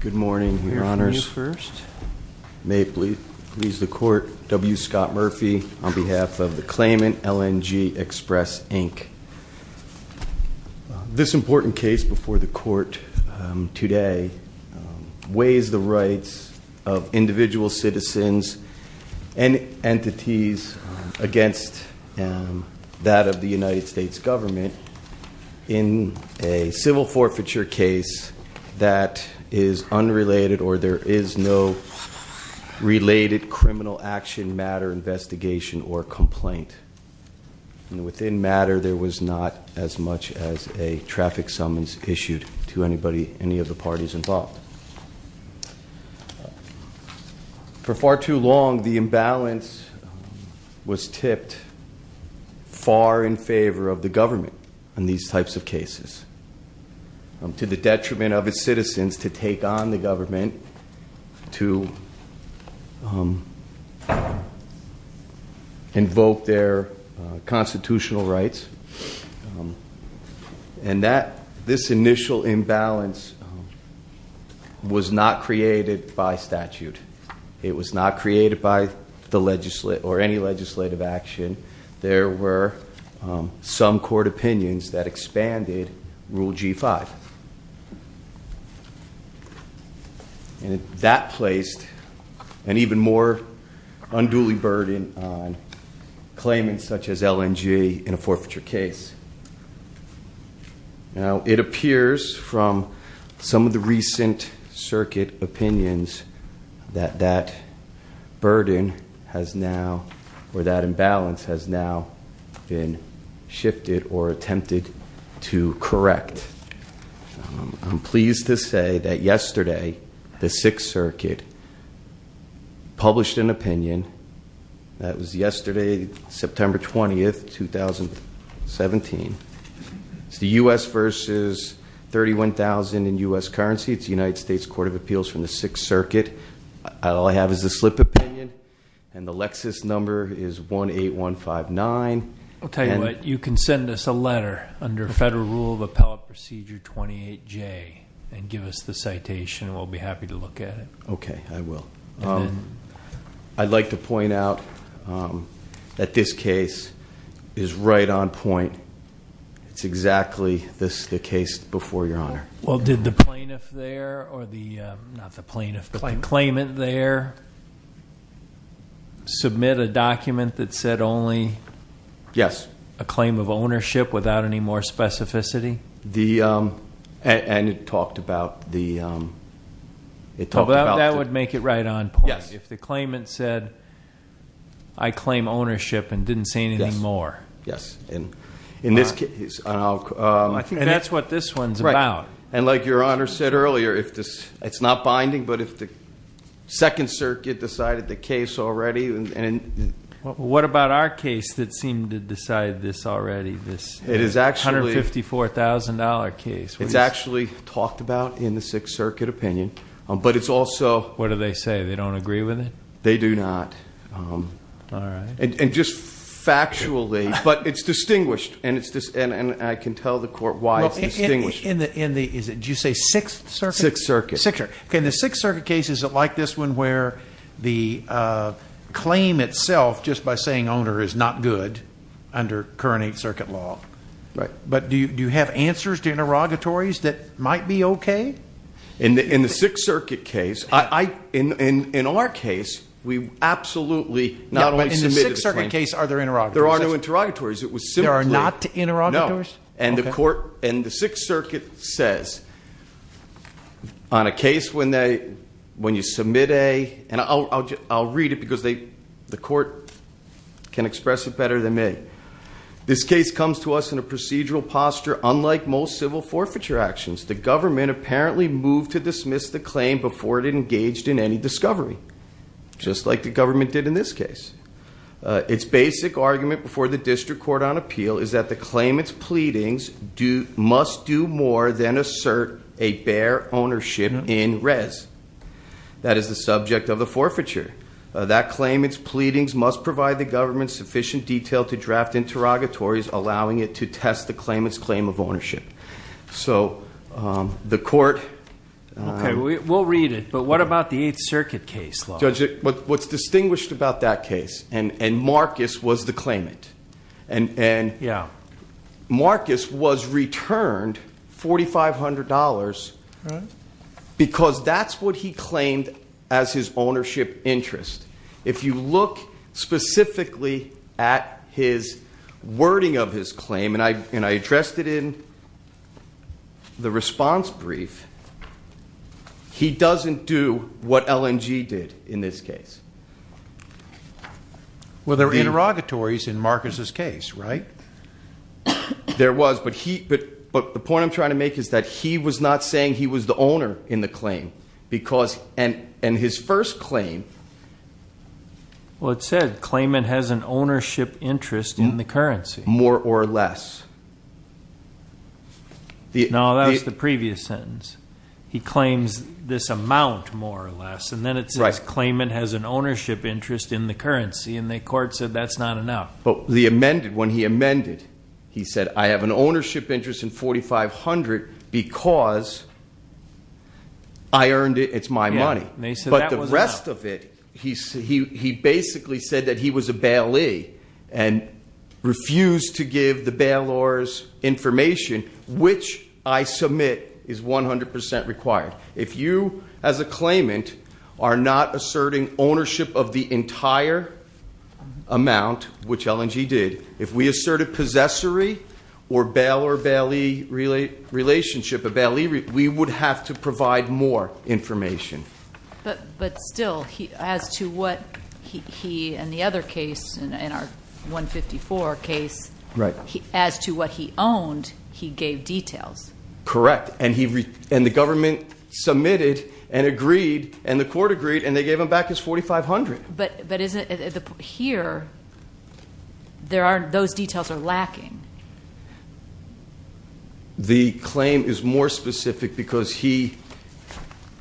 Good morning, your honors. May it please the court, W. Scott Murphy, on behalf of the claimant, LNG Express, Inc. This important case before the court today weighs the rights of individual citizens and entities against that of the United States government in a civil forfeiture case that is unrelated or there is no related criminal action, matter, investigation, or complaint. Within matter, there was not as much as a traffic summons issued to any of the parties involved. For far too long, the imbalance was tipped far in favor of the government in these types of cases to the detriment of its citizens to take on the government to invoke their constitutional rights. And this initial imbalance was not created by statute. It was not created by any legislative action. There were some court opinions that expanded Rule G5. And that placed an even more unduly burden on claimants such as LNG in a forfeiture case. Now, it appears from some of the recent circuit opinions that that burden has now, or that imbalance has now been shifted or attempted to correct. I'm pleased to say that yesterday, the Sixth Circuit published an opinion. That was yesterday, September 20th, 2017. It's the U.S. versus 31,000 in U.S. currency. It's the United States Court of Appeals from the Sixth Circuit. All I have is a slip opinion. And the Lexis number is 18159. I'll tell you what. You can send us a letter under Federal Rule of Appellate Procedure 28J and give us the citation. We'll be happy to look at it. Okay, I will. I'd like to point out that this case is right on point. It's exactly the case before Your Honor. Well, did the plaintiff there, or the, not the plaintiff, but the claimant there, submit a document that said only- Yes.... a claim of ownership without any more specificity? And it talked about the- That would make it right on point. If the claimant said, I claim ownership and didn't say anything more. Yes, and in this case, and I'll- And that's what this one's about. And like Your Honor said earlier, it's not binding, but if the Second Circuit decided the case already, and- What about our case that seemed to decide this already, this- It is actually-... $154,000 case? It's actually talked about in the Sixth Circuit opinion, but it's also- What do they say? They don't agree with it? They do not. All right. And just factually, but it's distinguished, and I can tell the Court why it's distinguished. Is it, did you say Sixth Circuit? Sixth Circuit. Sixth Circuit. Okay, in the Sixth Circuit case, is it like this one where the claim itself, just by saying owner, is not good under current Eighth Circuit law? Right. But do you have answers to interrogatories that might be okay? In the Sixth Circuit case, in our case, we absolutely not only submitted the claim- Yeah, but in the Sixth Circuit case, are there interrogatories? There are no interrogatories. It was simply- There are not interrogatories? No. Okay. And the Sixth Circuit says, on a case when you submit a- And I'll read it because the Court can express it better than me. This case comes to us in a procedural posture unlike most civil forfeiture actions. The government apparently moved to dismiss the claim before it engaged in any discovery, just like the government did in this case. Its basic argument before the district court on appeal is that the claimant's pleadings must do more than assert a bare ownership in res. That is the subject of the forfeiture. That claimant's pleadings must provide the government sufficient detail to draft interrogatories, allowing it to test the claimant's claim of ownership. So the Court- Okay, we'll read it, but what about the Eighth Circuit case? Judge, what's distinguished about that case, and Marcus was the claimant. And- Yeah. Marcus was returned $4,500 because that's what he claimed as his ownership interest. If you look specifically at his wording of his claim, and I addressed it in the response brief, he doesn't do what LNG did in this case. Well, there are interrogatories in Marcus's case, right? There was, but the point I'm trying to make is that he was not saying he was the owner in the claim, and his first claim- Well, it said claimant has an ownership interest in the currency. More or less. No, that was the previous sentence. He claims this amount more or less, and then it says claimant has an ownership interest in the currency, and the Court said that's not enough. But the amended, when he amended, he said, I have an ownership interest in $4,500 because I earned it, it's my money. Yeah, and he said that wasn't enough. But the rest of it, he basically said that he was a bailee and refused to give the bailor's information, which I submit is 100% required. If you, as a claimant, are not asserting ownership of the entire amount, which LNG did, if we asserted possessory or bailor-bailee relationship, we would have to provide more information. But still, as to what he, in the other case, in our 154 case, as to what he owned, he gave details. Correct, and the government submitted and agreed, and the court agreed, and they gave him back his $4,500. But here, those details are lacking. The claim is more specific because he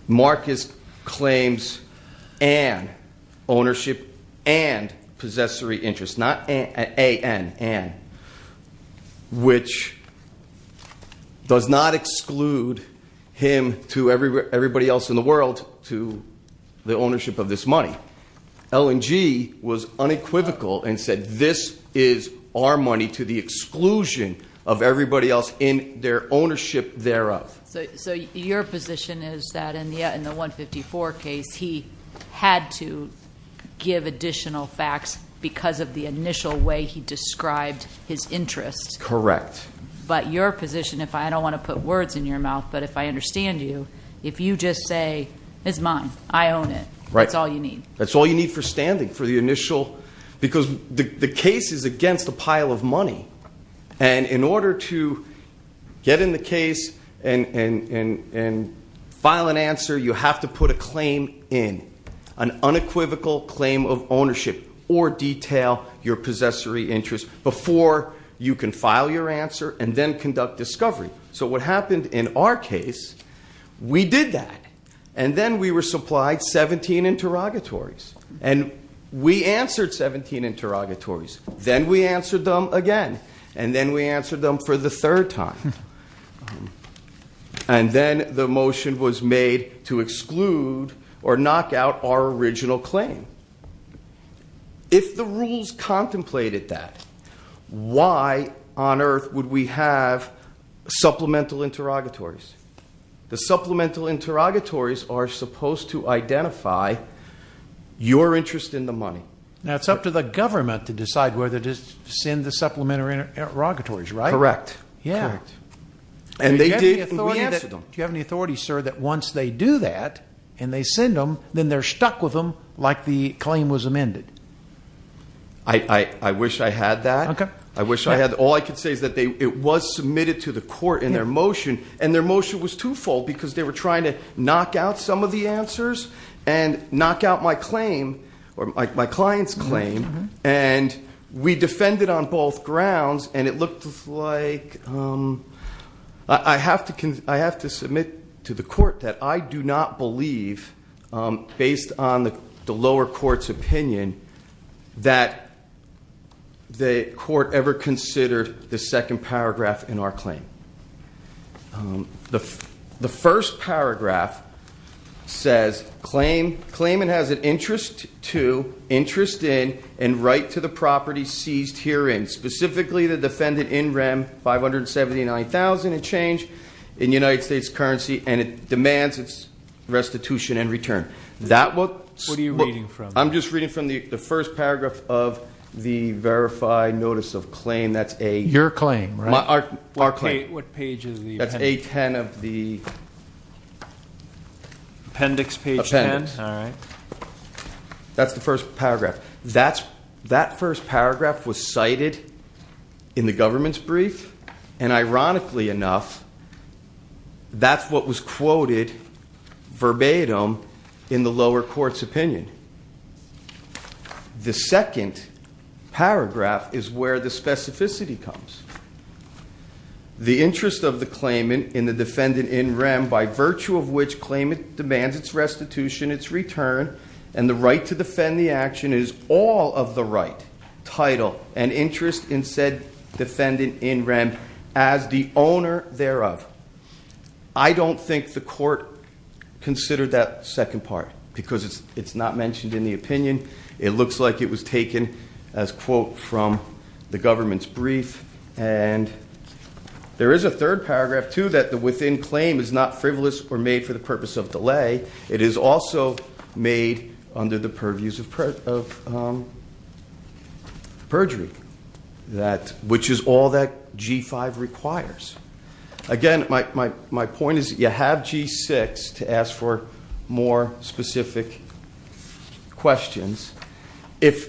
marked his claims an ownership and does not exclude him to everybody else in the world to the ownership of this money. LNG was unequivocal and said this is our money to the exclusion of everybody else in their ownership thereof. So your position is that in the 154 case, he had to give additional facts because of the initial way he described his interest. Correct. But your position, if I don't want to put words in your mouth, but if I understand you, if you just say, it's mine, I own it. Right. That's all you need. That's all you need for standing for the initial, because the case is against a pile of money. And in order to get in the case and file an answer, you have to put a claim in, an unequivocal claim of ownership or detail your possessory interest before you can file your answer and then conduct discovery. So what happened in our case, we did that. And then we were supplied 17 interrogatories. And we answered 17 interrogatories. Then we answered them again. And then we answered them for the third time. And then the motion was made to exclude or knock out our original claim. If the rules contemplated that, why on earth would we have supplemental interrogatories? The supplemental interrogatories are supposed to identify your interest in the money. Now, it's up to the government to decide whether to send the supplementary interrogatories, right? Correct. Yeah. Correct. And they did, and we answered them. Do you have any authority, sir, that once they do that and they send them, then they're claim was amended? I wish I had that. Okay. I wish I had. All I can say is that it was submitted to the court in their motion. And their motion was twofold, because they were trying to knock out some of the answers and knock out my claim, or my client's claim. And we defended on both grounds. And it looked like, I have to submit to the court that I do not believe, based on the lower court's opinion, that the court ever considered the second paragraph in our claim. The first paragraph says, claimant has an interest to, interest in, and right to the property seized herein. Specifically, the defendant in rem $579,000 and change in United States currency. And it demands its restitution and return. That what's- What are you reading from? I'm just reading from the first paragraph of the verified notice of claim. That's a- Your claim, right? What page is the- That's A10 of the- Appendix page 10. All right. That's the first paragraph. That first paragraph was cited in the government's brief. And ironically enough, that's what was quoted verbatim in the lower court's opinion. The second paragraph is where the specificity comes. The interest of the claimant in the defendant in rem by virtue of which claimant demands its restitution, its return, and the right to defend the action is all of the right. Title and interest in said defendant in rem as the owner thereof. I don't think the court considered that second part because it's not mentioned in the opinion. It looks like it was taken as quote from the government's brief. And there is a third paragraph too that the within claim is not frivolous or made for the purpose of delay. It is also made under the purviews of perjury, which is all that G5 requires. Again, my point is you have G6 to ask for more specific questions. If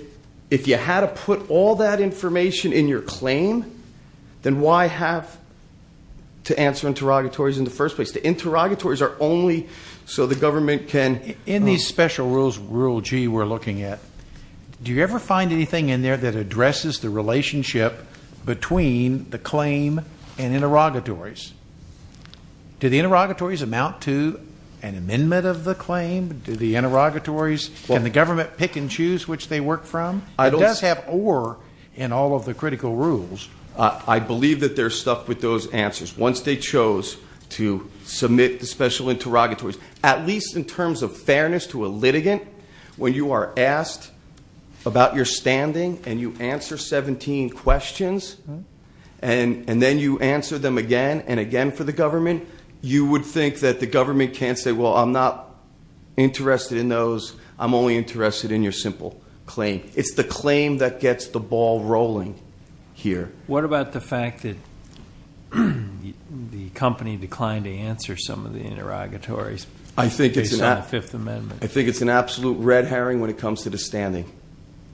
you had to put all that information in your claim, then why have to answer interrogatories in the first place? The interrogatories are only so the government can- In these special rules, rule G we're looking at, do you ever find anything in there that addresses the relationship between the claim and interrogatories? Do the interrogatories amount to an amendment of the claim? Do the interrogatories, can the government pick and choose which they work from? It does have or in all of the critical rules. I believe that they're stuck with those answers. Once they chose to submit the special interrogatories. At least in terms of fairness to a litigant, when you are asked about your standing and you answer 17 questions, and then you answer them again and again for the government, you would think that the government can't say, well, I'm not interested in those. I'm only interested in your simple claim. It's the claim that gets the ball rolling here. What about the fact that the company declined to answer some of the interrogatories? I think it's an absolute red herring when it comes to the standing.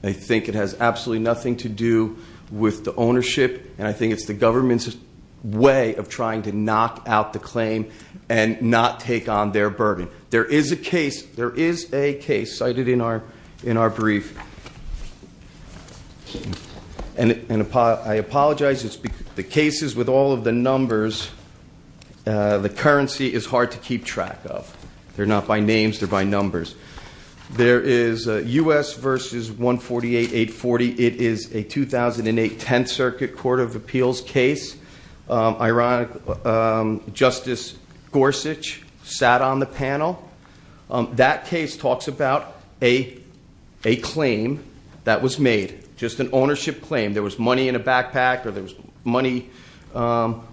I think it has absolutely nothing to do with the ownership, and I think it's the government's way of trying to knock out the claim and not take on their burden. There is a case cited in our brief. I apologize. It's the cases with all of the numbers. The currency is hard to keep track of. They're not by names. They're by numbers. There is US versus 148840. It is a 2008 10th Circuit Court of Appeals case. Ironically, Justice Gorsuch sat on the panel. That case talks about a claim that was made, just an ownership claim. There was money in a backpack or there was money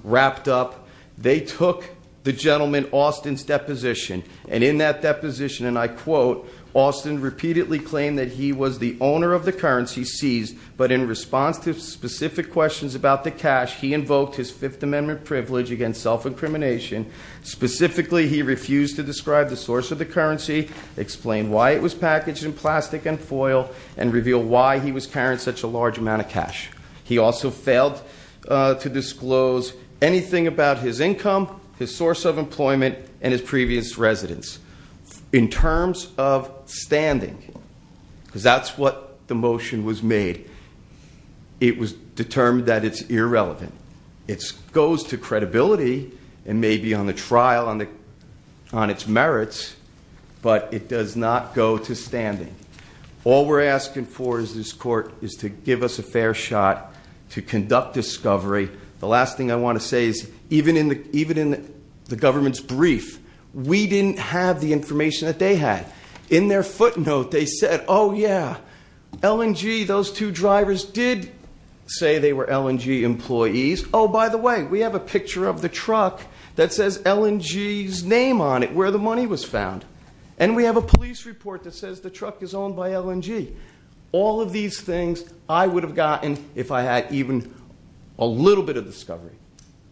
wrapped up. They took the gentleman Austin's deposition, and in that deposition, and I quote, Austin repeatedly claimed that he was the owner of the currency seized, but in response to specific questions about the cash, he invoked his Fifth Amendment privilege against self-incrimination. Specifically, he refused to describe the source of the currency, explain why it was packaged in plastic and foil, and reveal why he was carrying such a large amount of cash. He also failed to disclose anything about his income, his source of employment, and his previous residence. In terms of standing, because that's what the motion was made. It was determined that it's irrelevant. It goes to credibility and maybe on the trial on its merits, but it does not go to standing. All we're asking for is this court is to give us a fair shot to conduct discovery. The last thing I want to say is even in the government's brief, we didn't have the information that they had. In their footnote, they said, yeah, LNG, those two drivers did say they were LNG employees. By the way, we have a picture of the truck that says LNG's name on it, where the money was found. And we have a police report that says the truck is owned by LNG. All of these things I would have gotten if I had even a little bit of discovery,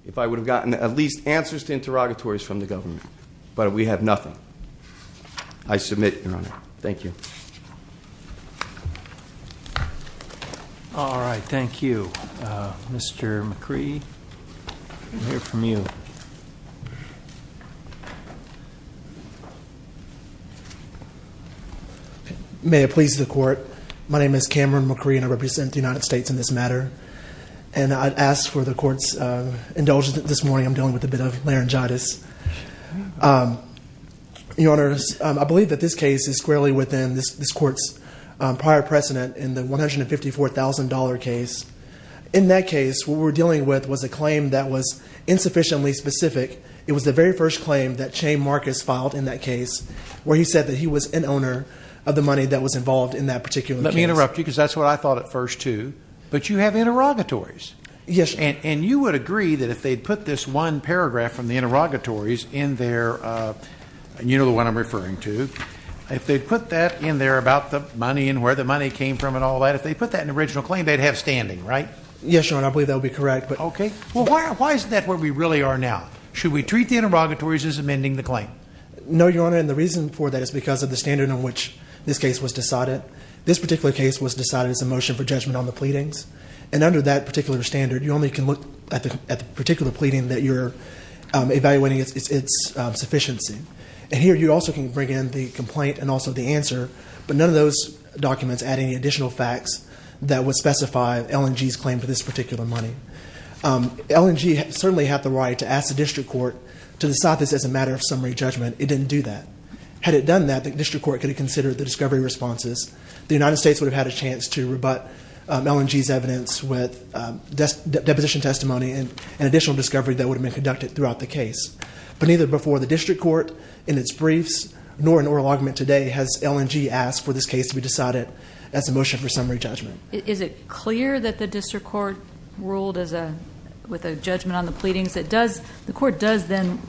if I would have gotten at least answers to interrogatories from the government. But we have nothing. I submit, Your Honor. Thank you. All right, thank you. Mr. McCree, we'll hear from you. May it please the court. My name is Cameron McCree, and I represent the United States in this matter. And I'd ask for the court's indulgence this morning, I'm dealing with a bit of laryngitis. Your Honor, I believe that this case is squarely within this court's prior precedent in the $154,000 case. In that case, what we're dealing with was a claim that was insufficiently specific. It was the very first claim that Chay Marcus filed in that case, where he said that he was an owner of the money that was involved in that particular case. Let me interrupt you, because that's what I thought at first, too. But you have interrogatories. Yes. And you would agree that if they'd put this one paragraph from the interrogatories in there, and you know the one I'm referring to, if they'd put that in there about the money and where the money came from and all that, if they put that in the original claim, they'd have standing, right? Yes, Your Honor. I believe that would be correct. Okay. Well, why is that where we really are now? Should we treat the interrogatories as amending the claim? No, Your Honor. And the reason for that is because of the standard on which this case was decided. This particular case was decided as a motion for judgment on the pleadings. And under that particular standard, you only can look at the particular pleading that you're evaluating its sufficiency. And here, you also can bring in the complaint and also the answer, but none of those documents add any additional facts that would specify L&G's claim for this particular money. L&G certainly had the right to ask the district court to decide this as a matter of summary judgment. It didn't do that. Had it done that, the district court could have considered the discovery responses. The United States would have had a chance to rebut L&G's evidence with deposition testimony and additional discovery that would have been conducted throughout the case. But neither before the district court in its briefs nor in oral argument today has L&G asked for this case to be decided as a motion for summary judgment. Is it clear that the district court ruled with a judgment on the pleadings? The court does then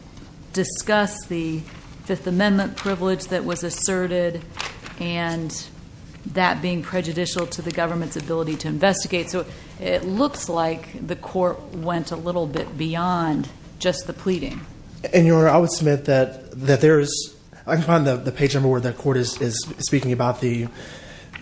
discuss the Fifth Amendment privilege that was asserted and that being prejudicial to the government's ability to investigate. So it looks like the court went a little bit beyond just the pleading. And Your Honor, I would submit that there is, I can find the page number where the court is speaking about the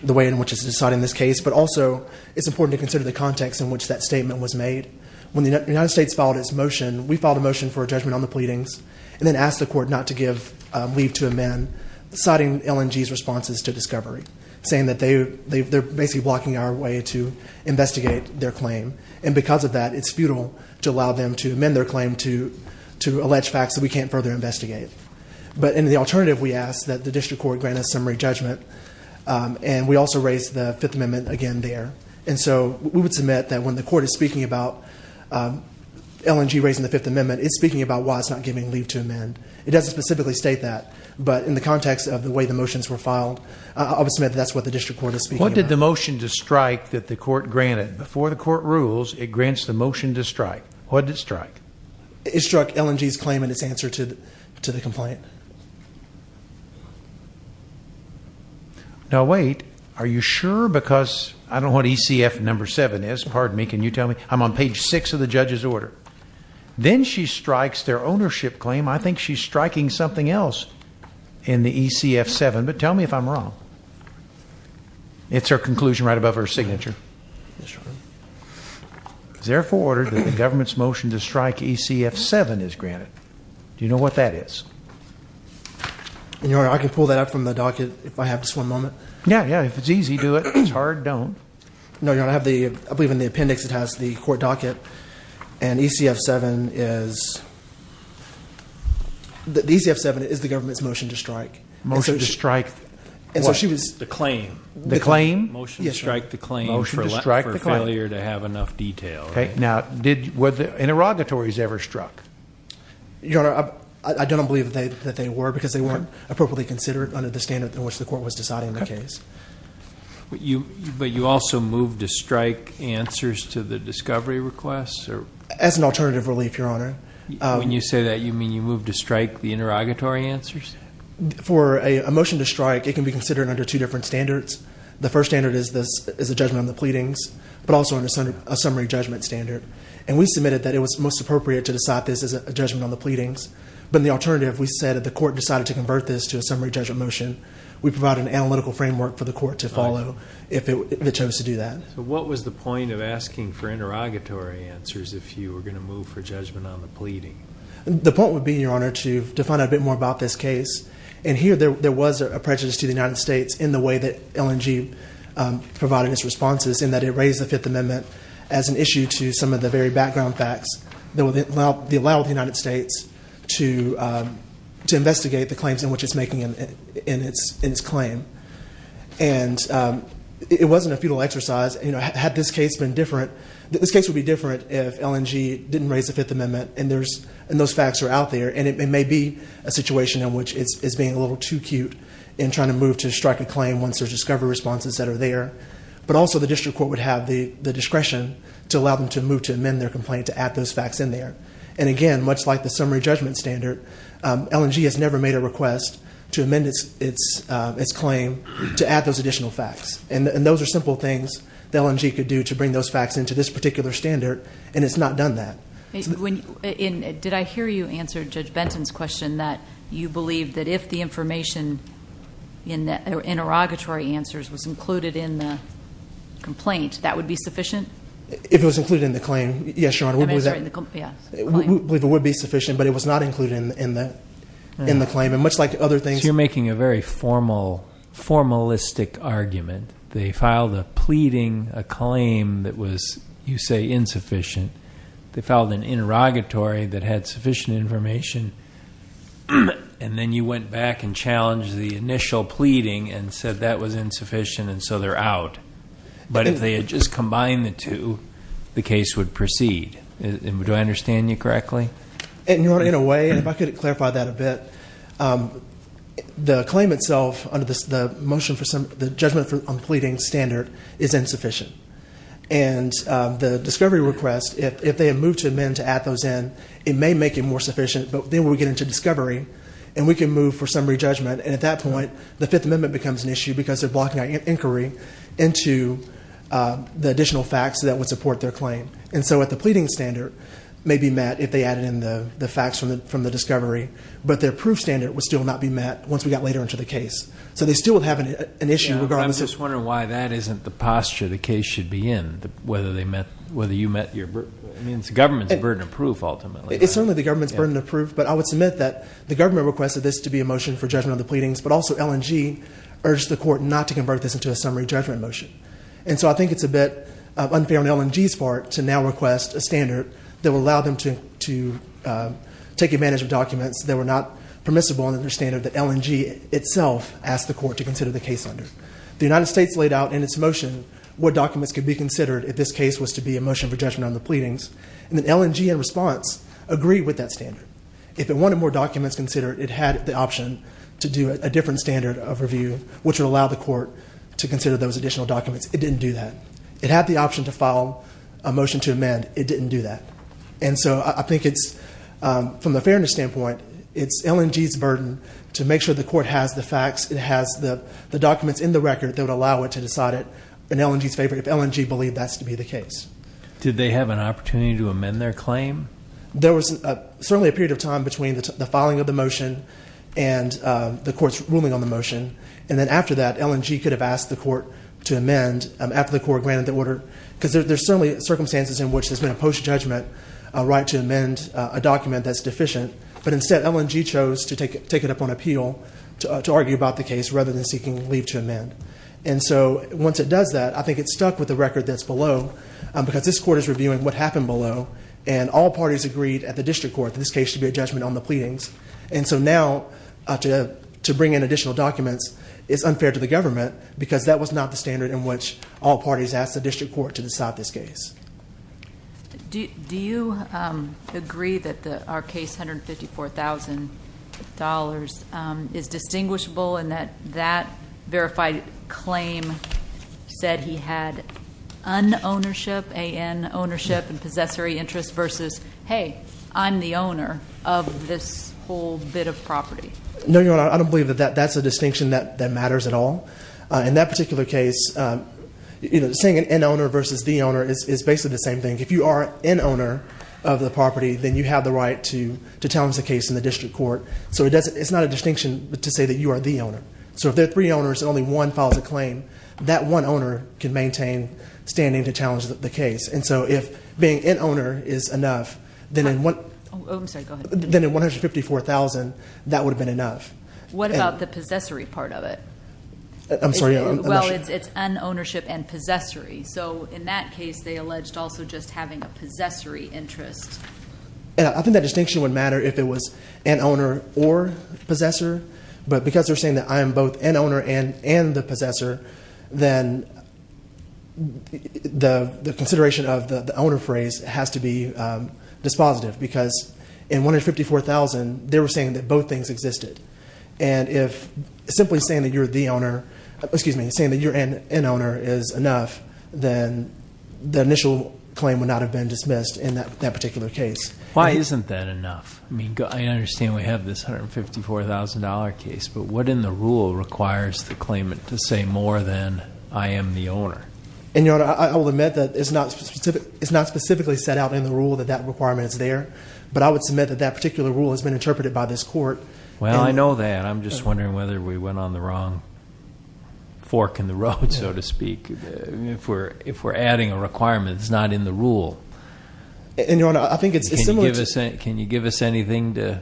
way in which it's deciding this case, but also it's important to consider the context in which that statement was made. When the United States filed its motion, we filed a motion for a judgment on the pleadings and then asked the court not to give leave to amend citing L&G's responses to discovery, saying that they're basically blocking our way to investigate their claim. And because of that, it's futile to allow them to amend their claim to allege facts that we can't further investigate. But in the alternative, we ask that the district court grant a summary judgment. And we also raised the Fifth Amendment again there. And so we would submit that when the court is speaking about L&G raising the Fifth Amendment, it's speaking about why it's not giving leave to amend. It doesn't specifically state that. But in the context of the way the motions were filed, I would submit that's what the district court is speaking about. What did the motion to strike that the court granted? Before the court rules, it grants the motion to strike. What did it strike? It struck L&G's claim and its answer to the complaint. Now, wait, are you sure? Because I don't know what ECF number seven is. Pardon me. Can you tell me? I'm on page six of the judge's order. Then she strikes their ownership claim. I think she's striking something else in the ECF seven. But tell me if I'm wrong. It's her conclusion right above her signature. It's therefore ordered that the government's motion to strike ECF seven is granted. Do you know what that is? Your Honor, I can pull that up from the docket if I have just one moment. Yeah, yeah. If it's easy, do it. If it's hard, don't. No, Your Honor, I believe in the appendix it has the court docket. And ECF seven is the government's motion to strike. Motion to strike what? The claim. The claim? Motion to strike the claim for failure to have enough detail. OK. Now, were the interrogatories ever struck? Your Honor, I don't believe that they were because they weren't appropriately considered under the standard in which the court was deciding the case. But you also moved to strike answers to the discovery requests? As an alternative relief, Your Honor. When you say that, you mean you moved to strike the interrogatory answers? For a motion to strike, it can be considered under two different standards. The first standard is a judgment on the pleadings, but also a summary judgment standard. And we submitted that it was most appropriate to decide this as a judgment on the pleadings. But in the alternative, we said that the court decided to convert this to a summary judgment motion. We provide an analytical framework for the court to follow if it chose to do that. So what was the point of asking for interrogatory answers if you were going to move for judgment on the pleading? The point would be, Your Honor, to find out a bit more about this case. And here, there was a prejudice to the United States in the way that LNG provided its responses in that it raised the Fifth Amendment as an issue to some of the very background facts that would allow the United States to investigate the claims in which it's making in its claim. And it wasn't a futile exercise. This case would be different if LNG didn't raise the Fifth Amendment and those facts are out there. And it may be a situation in which it's being a little too cute in trying to move to strike a claim once there's discovery responses that are there. But also, the district court would have the discretion to allow them to move to amend their complaint to add those facts in there. And again, much like the summary judgment standard, LNG has never made a request to its claim to add those additional facts. And those are simple things that LNG could do to bring those facts into this particular standard. And it's not done that. Did I hear you answer Judge Benton's question that you believe that if the information in the interrogatory answers was included in the complaint, that would be sufficient? If it was included in the claim, yes, Your Honor. I'm sorry, in the claim. We believe it would be sufficient, but it was not included in the claim. You're making a very formalistic argument. They filed a pleading, a claim that was, you say, insufficient. They filed an interrogatory that had sufficient information. And then you went back and challenged the initial pleading and said that was insufficient and so they're out. But if they had just combined the two, the case would proceed. Do I understand you correctly? And Your Honor, in a way, if I could clarify that a bit, the claim itself under the motion for the judgment on the pleading standard is insufficient. And the discovery request, if they had moved to amend to add those in, it may make it more sufficient. But then we get into discovery and we can move for summary judgment. And at that point, the Fifth Amendment becomes an issue because they're blocking our inquiry into the additional facts that would support their claim. And so at the pleading standard, it may be met if they added in the facts from the discovery, but their proof standard would still not be met once we got later into the case. So they still would have an issue regardless. I'm just wondering why that isn't the posture the case should be in, whether you met your government's burden of proof, ultimately. It's only the government's burden of proof. But I would submit that the government requested this to be a motion for judgment of the pleadings, but also LNG urged the court not to convert this into a summary judgment motion. And so I think it's a bit unfair on LNG's part to now request a standard that would allow them to take advantage of documents that were not permissible under their standard that LNG itself asked the court to consider the case under. The United States laid out in its motion what documents could be considered if this case was to be a motion for judgment on the pleadings. And then LNG, in response, agreed with that standard. If it wanted more documents considered, it had the option to do a different standard of review, which would allow the court to consider those additional documents. It didn't do that. It had the option to file a motion to amend. It didn't do that. And so I think it's, from a fairness standpoint, it's LNG's burden to make sure the court has the facts, it has the documents in the record that would allow it to decide it, and LNG's favorite if LNG believed that's to be the case. Did they have an opportunity to amend their claim? There was certainly a period of time between the filing of the motion and the court's ruling on the motion, and then after that, LNG could have asked the court to amend after the court granted the order. Because there's certainly circumstances in which there's been a post-judgment right to amend a document that's deficient. But instead, LNG chose to take it up on appeal to argue about the case rather than seeking leave to amend. And so once it does that, I think it's stuck with the record that's below, because this court is reviewing what happened below, and all parties agreed at the district court that this case should be a judgment on the pleadings. And so now, to bring in additional documents is unfair to the government, because that was not the standard in which all parties asked the district court to decide this case. Do you agree that our case, $154,000, is distinguishable in that that verified claim said he had an ownership and possessory interest versus, hey, I'm the owner of this bit of property? No, Your Honor. I don't believe that that's a distinction that matters at all. In that particular case, saying an in-owner versus the owner is basically the same thing. If you are an in-owner of the property, then you have the right to challenge the case in the district court. So it's not a distinction to say that you are the owner. So if there are three owners and only one files a claim, that one owner can maintain standing to challenge the case. And so if being in-owner is enough, then in $154,000, that would have been enough. What about the possessory part of it? I'm sorry. Well, it's an ownership and possessory. So in that case, they alleged also just having a possessory interest. And I think that distinction would matter if it was an owner or possessor. But because they're saying that I am both an owner and the possessor, then the consideration of the owner phrase has to be dispositive. Because in $154,000, they were saying that both things existed. And if simply saying that you're the owner, excuse me, saying that you're an in-owner is enough, then the initial claim would not have been dismissed in that particular case. Why isn't that enough? I mean, I understand we have this $154,000 case. But what in the rule requires the claimant to say more than I am the owner? And Your Honor, I will admit that it's not specifically set out in the rule that that requirement is there. But I would submit that that particular rule has been interpreted by this court. Well, I know that. I'm just wondering whether we went on the wrong fork in the road, so to speak. If we're adding a requirement that's not in the rule. And Your Honor, I think it's similar to- Can you give us anything to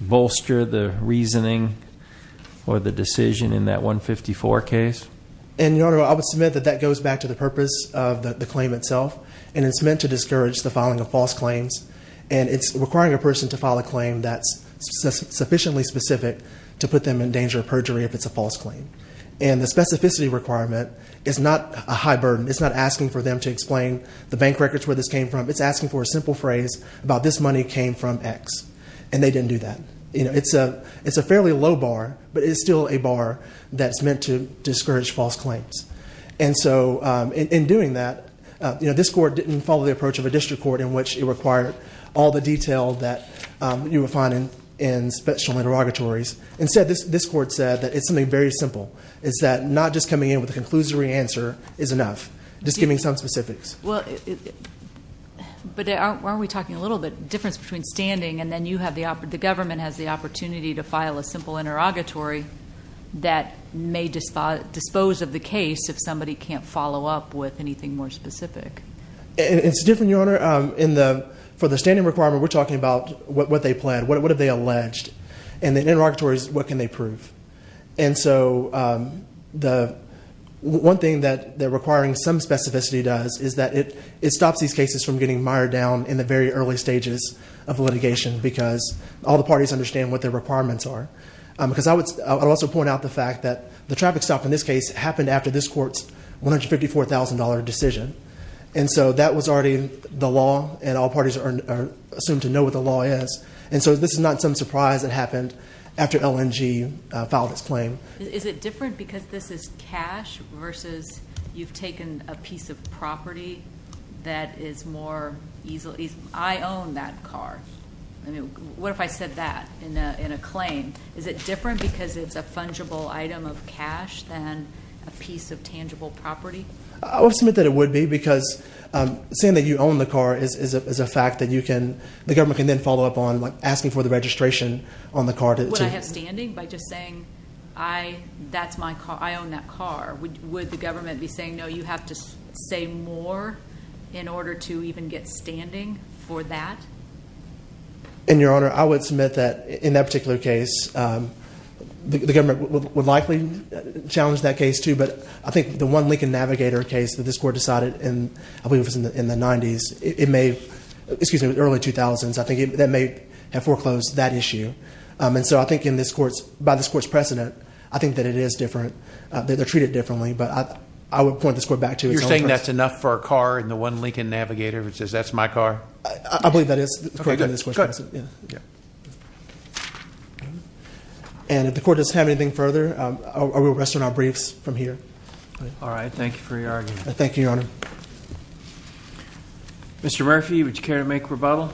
bolster the reasoning or the decision in that $154 case? And Your Honor, I would submit that that goes back to the purpose of the claim itself. And it's meant to discourage the filing of false claims. And it's requiring a person to file a claim that's sufficiently specific to put them in danger of perjury if it's a false claim. And the specificity requirement is not a high burden. It's not asking for them to explain the bank records where this came from. It's asking for a simple phrase about this money came from X. And they didn't do that. It's a fairly low bar, but it's still a bar that's meant to discourage false claims. And so in doing that, this court didn't follow the approach of a district court in which it required all the detail that you would find in special interrogatories. Instead, this court said that it's something very simple. It's that not just coming in with a conclusory answer is enough. Just giving some specifics. But aren't we talking a little bit difference between standing and then you have the government has the opportunity to file a simple interrogatory that may dispose of the case if somebody can't follow up with anything more specific. It's different, Your Honor. For the standing requirement, we're talking about what they planned. What have they alleged? And the interrogatories, what can they prove? And so the one thing that requiring some specificity does is that it stops these cases from getting mired down in the very early stages of litigation. Because all the parties understand what their requirements are. Because I would also point out the fact that the traffic stop in this case happened after this court's $154,000 decision. And so that was already the law and all parties are assumed to know what the law is. And so this is not some surprise that happened after LNG filed its claim. Is it different because this is cash versus you've taken a piece of property that is more easily, I own that car. What if I said that in a claim? Is it different because it's a fungible item of cash than a piece of tangible property? I would submit that it would be because saying that you own the car is a fact that you can, the government can then follow up on asking for the registration on the car. Would I have standing by just saying, I own that car? Would the government be saying, no, you have to say more in order to even get standing for that? Your Honor, I would submit that in that particular case, the government would likely challenge that case too. But I think the one Lincoln Navigator case that this court decided in, I believe it was in the 90s, it may, excuse me, early 2000s, I think that may have foreclosed that issue. And so I think in this court's, by this court's precedent, I think that it is different, that they're treated differently. But I would point this court back to its own precedent. You're saying that's enough for a car and the one Lincoln Navigator which says, that's my car? I believe that is. Yeah. And if the court does have anything further, I will rest on our briefs from here. All right. Thank you for your argument. Thank you, Your Honor. Mr. Murphy, would you care to make rebuttal?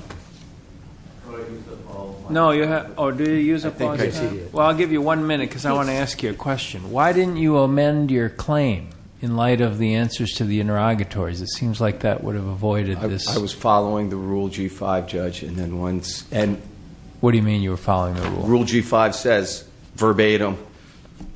No, you have. Oh, do you use it? Well, I'll give you one minute because I want to ask you a question. Why didn't you amend your claim in light of the answers to the interrogatories? It seems like that would have avoided this. I was following the Rule G5, Judge, and then once- And what do you mean you were following the rule? Rule G5 says, verbatim,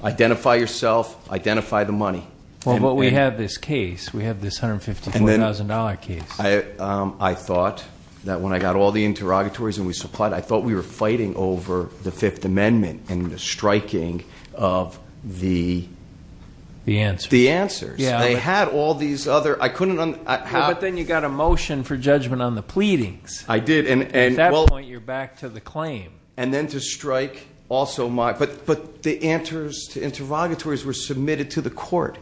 identify yourself, identify the money. Well, but we have this case. We have this $154,000 case. I thought that when I got all the interrogatories and we supplied, I thought we were fighting over the Fifth Amendment and the striking of the- The answers. The answers. They had all these other, I couldn't- But then you got a motion for judgment on the pleadings. I did, and- At that point, you're back to the claim. And then to strike also my- But the answers to interrogatories were submitted to the court.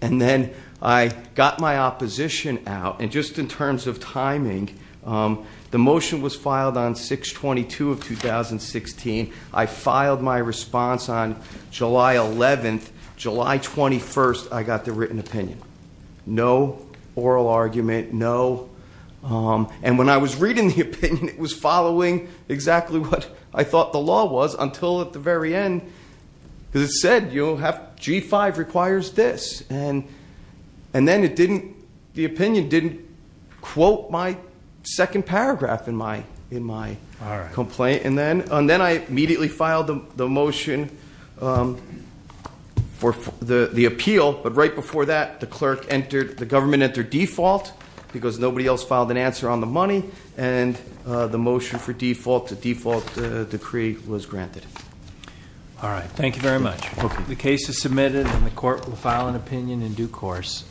And then I got my opposition out. And just in terms of timing, the motion was filed on 6-22 of 2016. I filed my response on July 11th. July 21st, I got the written opinion. No oral argument, no. And when I was reading the opinion, it was following exactly what I thought the law was until at the very end. Because it said, G5 requires this. And then the opinion didn't quote my second paragraph in my complaint. And then I immediately filed the motion for the appeal. But right before that, the government entered default. Because nobody else filed an answer on the money. And the motion for default, the default decree was granted. All right, thank you very much. The case is submitted and the court will file an opinion in due course.